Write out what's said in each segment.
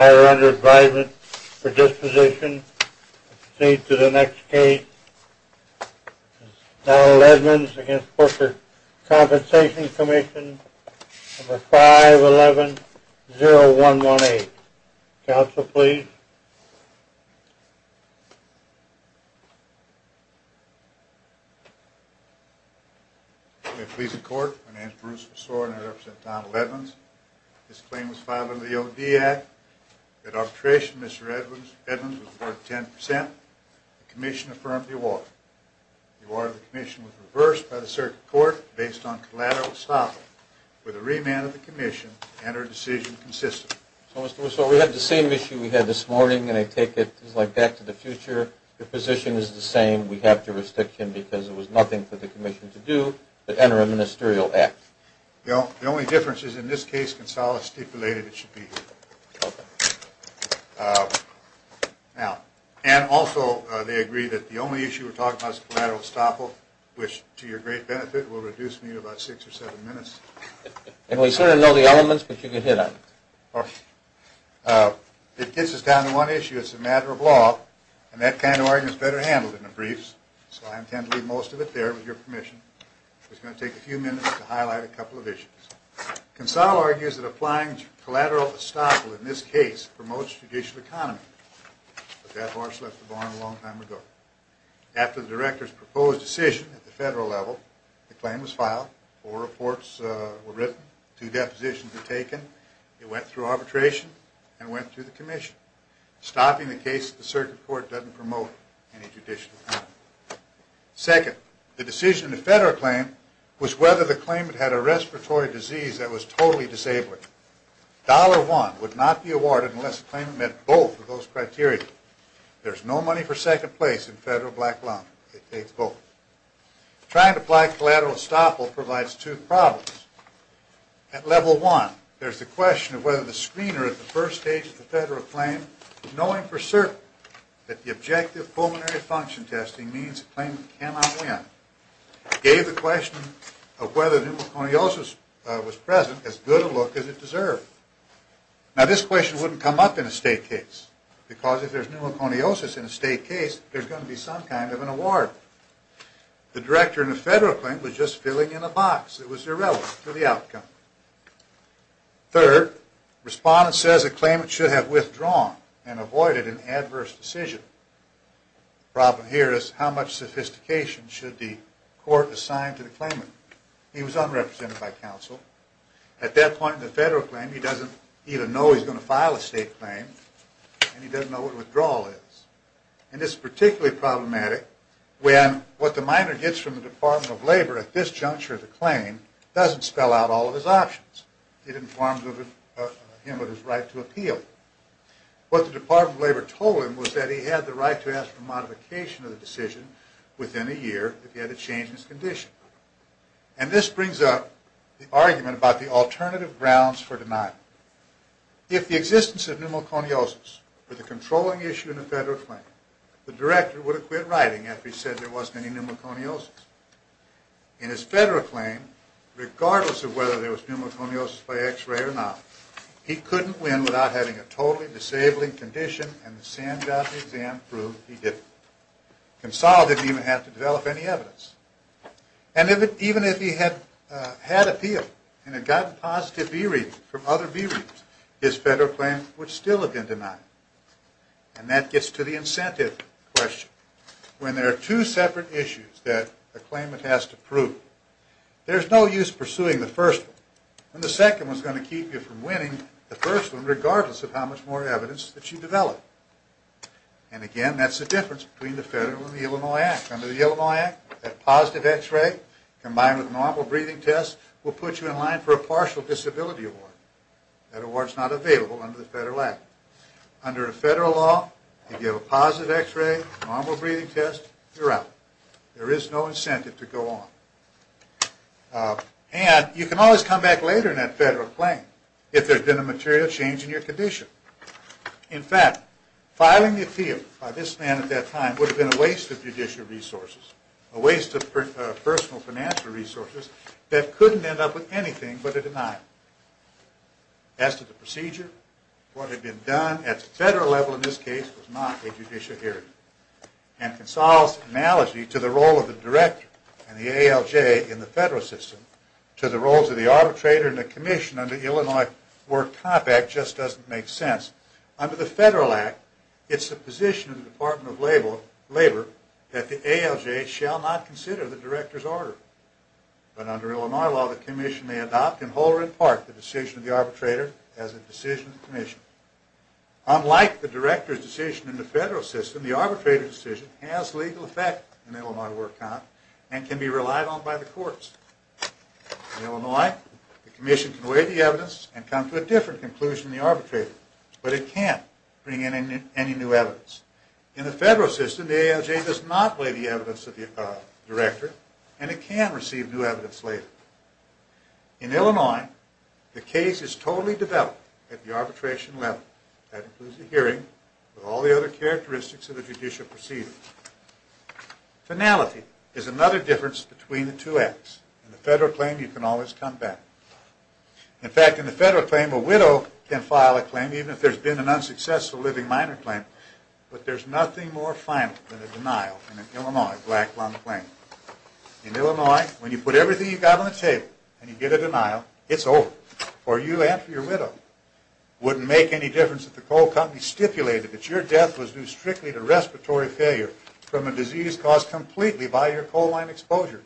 We are under advisement for disposition. Proceed to the next case, Donald Edmonds v. Workers' Compensation Comm'n, 5110118. Counsel, please. May it please the Court, my name is Bruce Wessore and I represent Donald Edmonds. This claim was filed under the O.D. Act. At arbitration, Mr. Edmonds was awarded 10%. The Commission affirmed the award. The award of the Commission was reversed by the Circuit Court based on collateral estoppel with a remand of the Commission and our decision consistent. So, Mr. Wessore, we have the same issue we had this morning and I take it back to the future. The position is the same. We have jurisdiction because it was nothing for the Commission to do but enter a ministerial act. The only difference is in this case, Consuelo stipulated it should be here. Okay. Now, and also they agree that the only issue we're talking about is collateral estoppel, which, to your great benefit, will reduce me to about six or seven minutes. And we sort of know the elements, but you get hit on them. It gets us down to one issue, it's a matter of law, and that kind of argument is better handled in the briefs, so I intend to leave most of it there with your permission. It's going to take a few minutes to highlight a couple of issues. Consuelo argues that applying collateral estoppel in this case promotes judicial economy, but that horse left the barn a long time ago. After the Director's proposed decision at the federal level, the claim was filed, four reports were written, two depositions were taken, it went through arbitration, and went through the Commission. Stopping the case at the circuit court doesn't promote any judicial economy. Second, the decision in the federal claim was whether the claimant had a respiratory disease that was totally disabling. Dollar one would not be awarded unless the claimant met both of those criteria. There's no money for second place in federal black lump, it takes both. Trying to apply collateral estoppel provides two problems. At level one, there's the question of whether the screener at the first stage of the federal claim, knowing for certain that the objective pulmonary function testing means the claimant cannot win, gave the question of whether pneumoconiosis was present as good a look as it deserved. Now this question wouldn't come up in a state case, because if there's pneumoconiosis in a state case, there's going to be some kind of an award. The Director in the federal claim was just filling in a box that was irrelevant to the outcome. Third, respondents say the claimant should have withdrawn and avoided an adverse decision. The problem here is how much sophistication should the court assign to the claimant? He was unrepresented by counsel. At that point in the federal claim, he doesn't even know he's going to file a state claim, and he doesn't know what withdrawal is. And this is particularly problematic when what the minor gets from the Department of Labor at this juncture of the claim doesn't spell out all of his options. It informs him of his right to appeal. What the Department of Labor told him was that he had the right to ask for modification of the decision within a year if he had to change his condition. And this brings up the argument about the alternative grounds for denial. If the existence of pneumoconiosis were the controlling issue in the federal claim, the Director would have quit writing after he said there wasn't any pneumoconiosis. In his federal claim, regardless of whether there was pneumoconiosis by x-ray or not, he couldn't win without having a totally disabling condition, and the Sandbox exam proved he didn't. Consolidate didn't even have to develop any evidence. And even if he had appealed and had gotten positive B-readings from other B-readings, his federal claim would still have been denied. And that gets to the incentive question. When there are two separate issues that a claimant has to prove, there's no use pursuing the first one. And the second one is going to keep you from winning the first one regardless of how much more evidence that you develop. And again, that's the difference between the federal and the Illinois Act. Under the Illinois Act, a positive x-ray combined with a normal breathing test will put you in line for a partial disability award. That award is not available under the federal act. Under a federal law, if you have a positive x-ray, normal breathing test, you're out. There is no incentive to go on. And you can always come back later in that federal claim if there's been a material change in your condition. In fact, filing the appeal by this man at that time would have been a waste of judicial resources, a waste of personal financial resources that couldn't end up with anything but a denial. As to the procedure, what had been done at the federal level in this case was not a judicial hearing. And Consal's analogy to the role of the director and the ALJ in the federal system to the roles of the arbitrator and the commission under the Illinois Work Compact just doesn't make sense. Under the federal act, it's the position of the Department of Labor that the ALJ shall not consider the director's order. But under Illinois law, the commission may adopt and hold in part the decision of the arbitrator as a decision of the commission. Unlike the director's decision in the federal system, the arbitrator's decision has legal effect in Illinois Work Comp and can be relied on by the courts. In Illinois, the commission can weigh the evidence and come to a different conclusion than the arbitrator. In the federal system, the ALJ does not weigh the evidence of the director and it can receive new evidence later. In Illinois, the case is totally developed at the arbitration level. That includes the hearing with all the other characteristics of the judicial procedure. Finality is another difference between the two acts. In the federal claim, you can always come back. In fact, in the federal claim, a widow can file a claim even if there's been an unsuccessful living minor claim. But there's nothing more final than a denial in an Illinois black lung claim. In Illinois, when you put everything you've got on the table and you get a denial, it's over. For you and for your widow, it wouldn't make any difference if the coal company stipulated that your death was due strictly to respiratory failure from a disease caused completely by your coal mine exposure.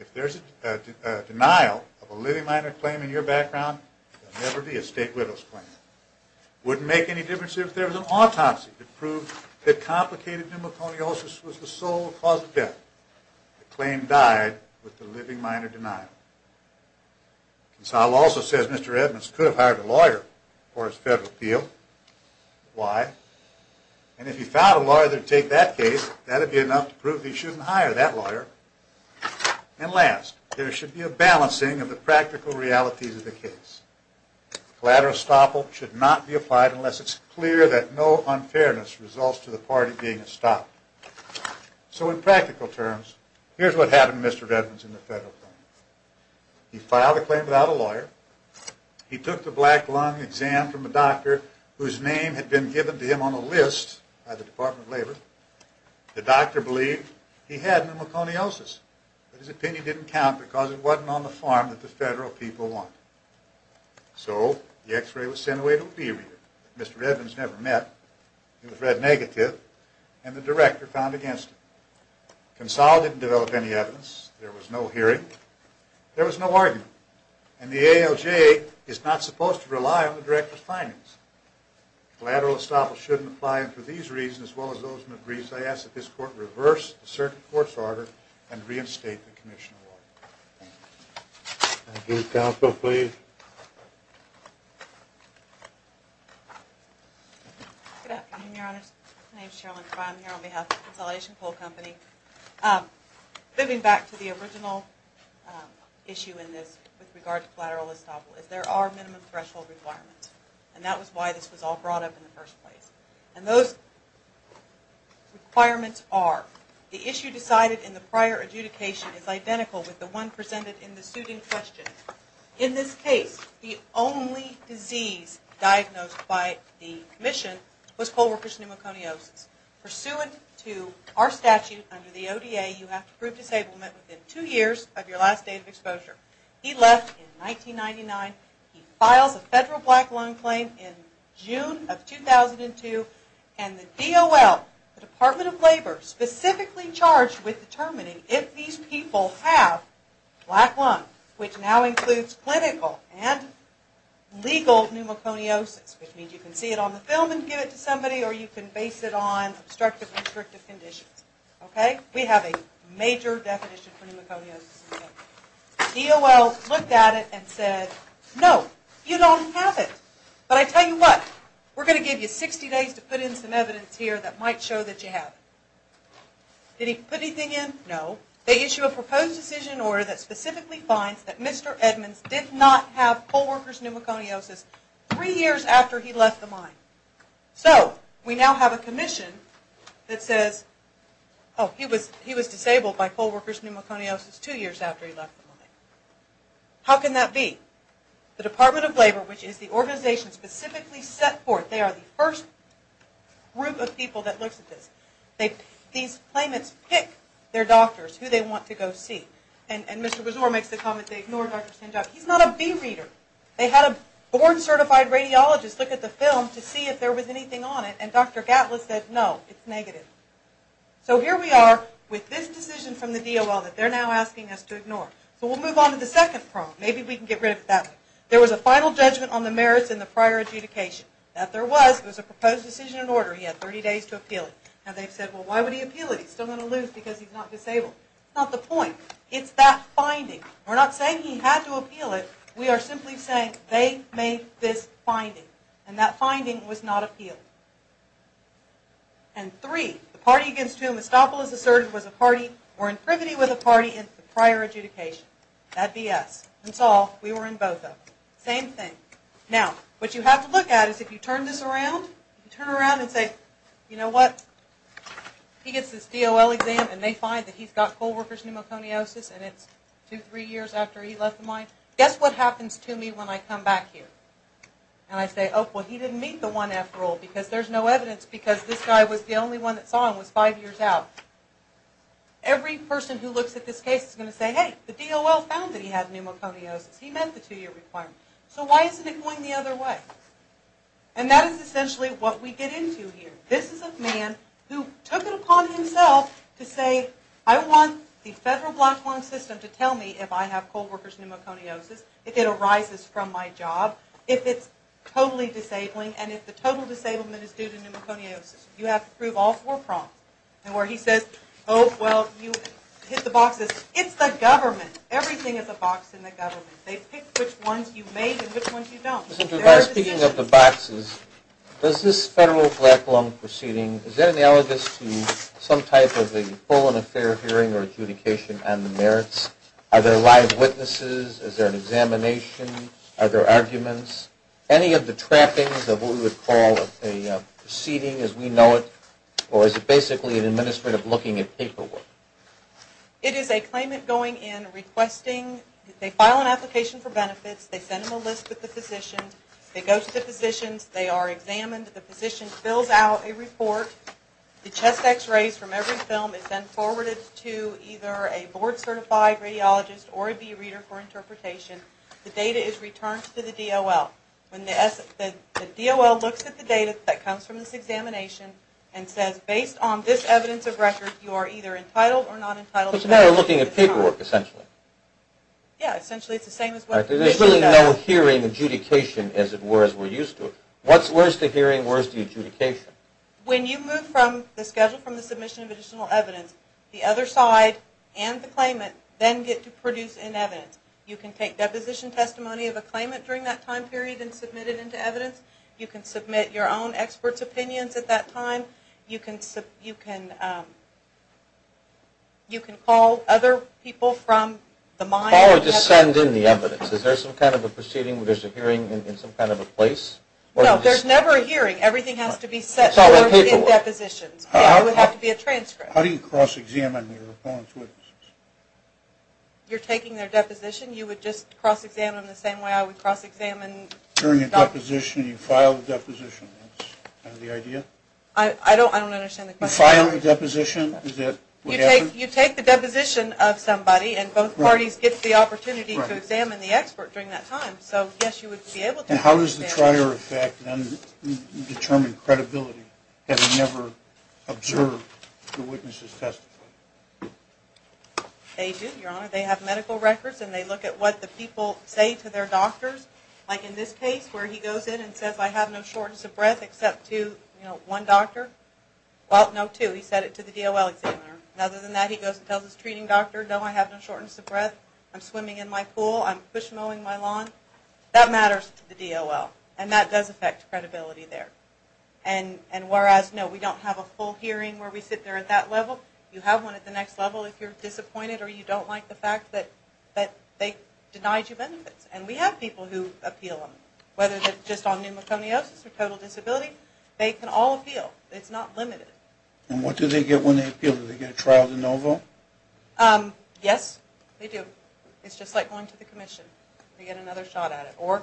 If there's a denial of a living minor claim in your background, it will never be a state widow's claim. It wouldn't make any difference if there was an autopsy to prove that complicated pneumoconiosis was the sole cause of death. The claim died with the living minor denial. Consolidate also says Mr. Edmonds could have hired a lawyer for his federal appeal. Why? And if he found a lawyer to take that case, that would be enough to prove he shouldn't hire that lawyer. And last, there should be a balancing of the practical realities of the case. Collateral estoppel should not be applied unless it's clear that no unfairness results to the party being estoppel. So in practical terms, here's what happened to Mr. Edmonds in the federal court. He filed a claim without a lawyer. He took the black lung exam from a doctor whose name had been given to him on a list by the Department of Labor. The doctor believed he had pneumoconiosis. But his opinion didn't count because it wasn't on the form that the federal people wanted. So the x-ray was sent away to a lead reader. Mr. Edmonds never met. It was read negative, and the director found against him. Consolidate didn't develop any evidence. There was no hearing. There was no argument. And the ALJ is not supposed to rely on the director's findings. Collateral estoppel shouldn't apply, and for these reasons, as well as those in the briefs, I ask that this court reverse the circuit court's order and reinstate the commission of law. Thank you. Thank you. Counsel, please. Good afternoon, Your Honors. My name is Cheryl McBride. I'm here on behalf of the Consolidation Poll Company. Thinking back to the original issue in this with regard to collateral estoppel is there are minimum threshold requirements, and that was why this was all brought up in the first place. And those requirements are the issue decided in the prior adjudication is identical with the one presented in the suiting question. In this case, the only disease diagnosed by the commission was co-workers' pneumoconiosis. Pursuant to our statute under the ODA, you have to prove disablement within two years of your last date of exposure. He left in 1999. He files a federal black lung claim in June of 2002, and the DOL, the Department of Labor, specifically charged with determining if these people have black lung, which now includes clinical and legal pneumoconiosis, which means you can see it on the film and give it to somebody, or you can base it on obstructive constrictive conditions. Okay? We have a major definition for pneumoconiosis. DOL looked at it and said, no, you don't have it. But I tell you what, we're going to give you 60 days to put in some evidence here that might show that you have it. Did he put anything in? No. They issue a proposed decision in order that specifically finds that Mr. Edmonds did not have co-workers' pneumoconiosis three years after he left the mine. So, we now have a commission that says, oh, he was disabled by co-workers' pneumoconiosis two years after he left the mine. How can that be? The Department of Labor, which is the organization specifically set forth, they are the first group of people that looks at this. These claimants pick their doctors, who they want to go see. And Mr. Brazor makes the comment they ignore Dr. Sanjog. He's not a bee reader. They had a board-certified radiologist look at the film to see if there was anything on it. And Dr. Gatlis said, no, it's negative. So, here we are with this decision from the DOL that they're now asking us to ignore. So, we'll move on to the second problem. Maybe we can get rid of it that way. There was a final judgment on the merits and the prior adjudication. That there was, it was a proposed decision in order. He had 30 days to appeal it. Now, they've said, well, why would he appeal it? He's still going to lose because he's not disabled. It's not the point. It's that finding. We're not saying he had to appeal it. We are simply saying they made this finding. And that finding was not appealed. And three, the party against whom Estopolis asserted was a party or in privity with a party in the prior adjudication. That'd be us. That's all. We were in both of them. Same thing. Now, what you have to look at is if you turn this around, you turn around and say, you know what? He gets this DOL exam and they find that he's got co-workers' pneumoconiosis and it's two, three years after he left the mine. Guess what happens to me when I come back here? And I say, oh, well, he didn't meet the 1F rule because there's no evidence because this guy was the only one that saw him was five years out. Every person who looks at this case is going to say, hey, the DOL found that he had pneumoconiosis. He met the two-year requirement. So why isn't it going the other way? And that is essentially what we get into here. This is a man who took it upon himself to say, I want the federal black lung system to tell me if I have co-workers' pneumoconiosis, if it arises from my job, if it's totally disabling, and if the total disablement is due to pneumoconiosis. You have to prove all four prongs. And where he says, oh, well, you hit the boxes. It's the government. Everything is a box in the government. They pick which ones you make and which ones you don't. Speaking of the boxes, does this federal black lung proceeding, is that analogous to some type of a full and fair hearing or adjudication on the merits? Are there live witnesses? Is there an examination? Are there arguments? Any of the trappings of what we would call a proceeding as we know it, or is it basically an administrative looking at paperwork? It is a claimant going in, requesting, they file an application for benefits. They send them a list with the physician. They go to the physicians. They are examined. The physician fills out a report. The chest X-rays from every film is then forwarded to either a board-certified radiologist or a B-reader for interpretation. The data is returned to the DOL. When the DOL looks at the data that comes from this examination and says, based on this evidence of record, you are either entitled or not entitled. It's a matter of looking at paperwork, essentially. Yeah, essentially it's the same as what the physician does. There's really no hearing adjudication as it were as we're used to. Where's the hearing? Where's the adjudication? When you move from the schedule from the submission of additional evidence, the other side and the claimant then get to produce an evidence. You can take deposition testimony of a claimant during that time period and submit it into evidence. You can submit your own expert's opinions at that time. You can call other people from the mine. Call or just send in the evidence. Is there some kind of a proceeding where there's a hearing in some kind of a place? No, there's never a hearing. Everything has to be set forth in depositions. It would have to be a transcript. How do you cross-examine your opponent's witnesses? You're taking their deposition. You would just cross-examine them the same way I would cross-examine doctors. You take the deposition. You file the deposition. Is that the idea? I don't understand the question. You file the deposition. Is that what happens? You take the deposition of somebody, and both parties get the opportunity to examine the expert during that time. So, yes, you would be able to cross-examine. How does the trier effect then determine credibility having never observed the witness's testimony? They do, Your Honor. They have medical records, and they look at what the people say to their doctors. Like in this case where he goes in and says, I have no shortness of breath except to one doctor. Well, no, two. He said it to the DOL examiner. Other than that, he goes and tells his treating doctor, no, I have no shortness of breath. I'm swimming in my pool. I'm bush mowing my lawn. That matters to the DOL, and that does affect credibility there. And whereas, no, we don't have a full hearing where we sit there at that level, you have one at the next level if you're disappointed or you don't like the fact that they denied you benefits. And we have people who appeal them, whether it's just on pneumoconiosis or total disability. They can all appeal. It's not limited. And what do they get when they appeal? Do they get a trial de novo? Yes, they do. It's just like going to the commission. They get another shot at it. Or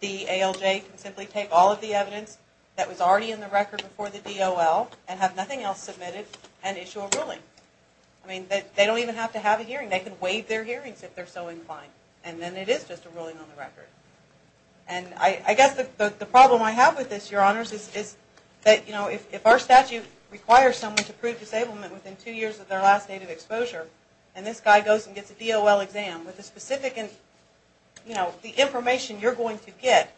the ALJ can simply take all of the evidence that was already in the record before the DOL and have nothing else submitted and issue a ruling. I mean, they don't even have to have a hearing. They can waive their hearings if they're so inclined. And then it is just a ruling on the record. And I guess the problem I have with this, Your Honors, is that if our statute requires someone to prove disablement within two years of their last date of exposure, and this guy goes and gets a DOL exam with the specific information you're going to get,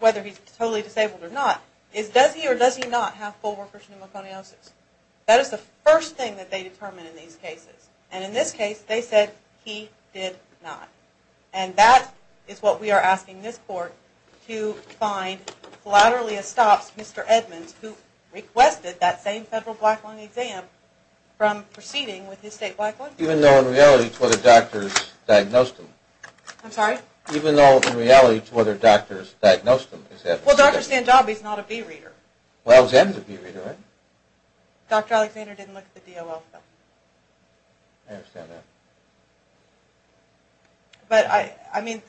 whether he's totally disabled or not, is does he or does he not have full workers' pneumoconiosis? That is the first thing that they determine in these cases. And in this case, they said he did not. And that is what we are asking this Court to find collaterally estops Mr. Edmonds, who requested that same federal black lung exam from proceeding with his state black lung. Even though, in reality, it's whether doctors diagnosed him. I'm sorry? Even though, in reality, it's whether doctors diagnosed him. Well, Dr. Sandabi is not a B-reader. Well, then he's a B-reader, right? Dr. Alexander didn't look at the DOL, though. I understand that. But, I mean,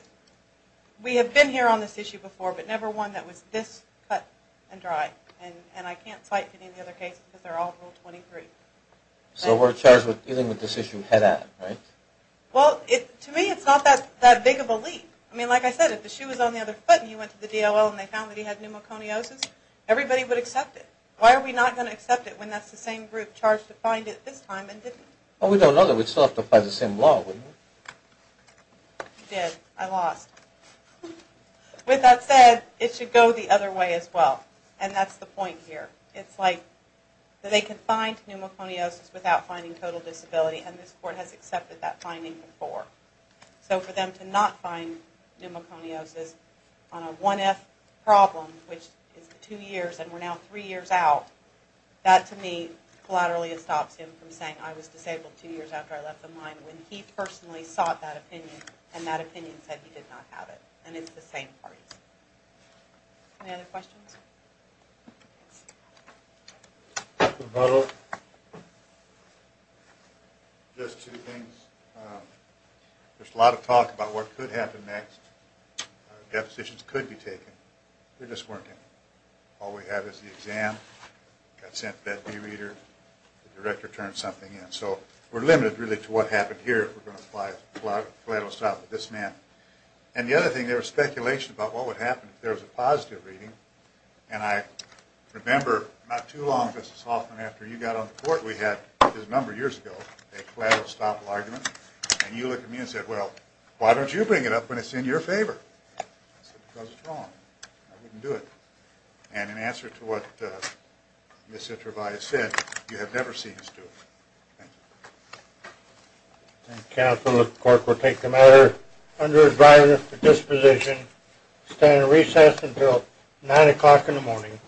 we have been here on this issue before, but never one that was this cut and dry. And I can't cite any of the other cases, because they're all Rule 23. So we're charged with dealing with this issue head-on, right? Well, to me, it's not that big of a leap. I mean, like I said, if the shoe was on the other foot and he went to the DOL and they found that he had pneumoconiosis, everybody would accept it. Why are we not going to accept it when that's the same group charged to find it this time and didn't? Well, we don't know that. We'd still have to apply the same law, wouldn't we? We did. I lost. With that said, it should go the other way as well. And that's the point here. It's like they can find pneumoconiosis without finding total disability, and this court has accepted that finding before. So for them to not find pneumoconiosis on a 1F problem, which is 2 years, and we're now 3 years out, that to me collaterally stops him from saying, I was disabled 2 years after I left the mine, when he personally sought that opinion, and that opinion said he did not have it. And it's the same parties. Any other questions? Just two things. There's a lot of talk about what could happen next. Depositions could be taken. They're just working. All we have is the exam. Got sent to that d-reader. The director turned something in. So we're limited really to what happened here. We're going to apply collateral stop with this man. And the other thing, there was speculation about what would happen if there was a positive reading. And I remember not too long, Mrs. Hoffman, after you got on the court we had a number of years ago, a collateral stop argument, and you looked at me and said, well, why don't you bring it up when it's in your favor? I said, because it's wrong. I wouldn't do it. And in answer to what Ms. Itrovaya said, you have never seen us do it. Thank you. Thank you, counsel. The court will take the matter under advisory for disposition. Stand recess until 9 o'clock in the morning.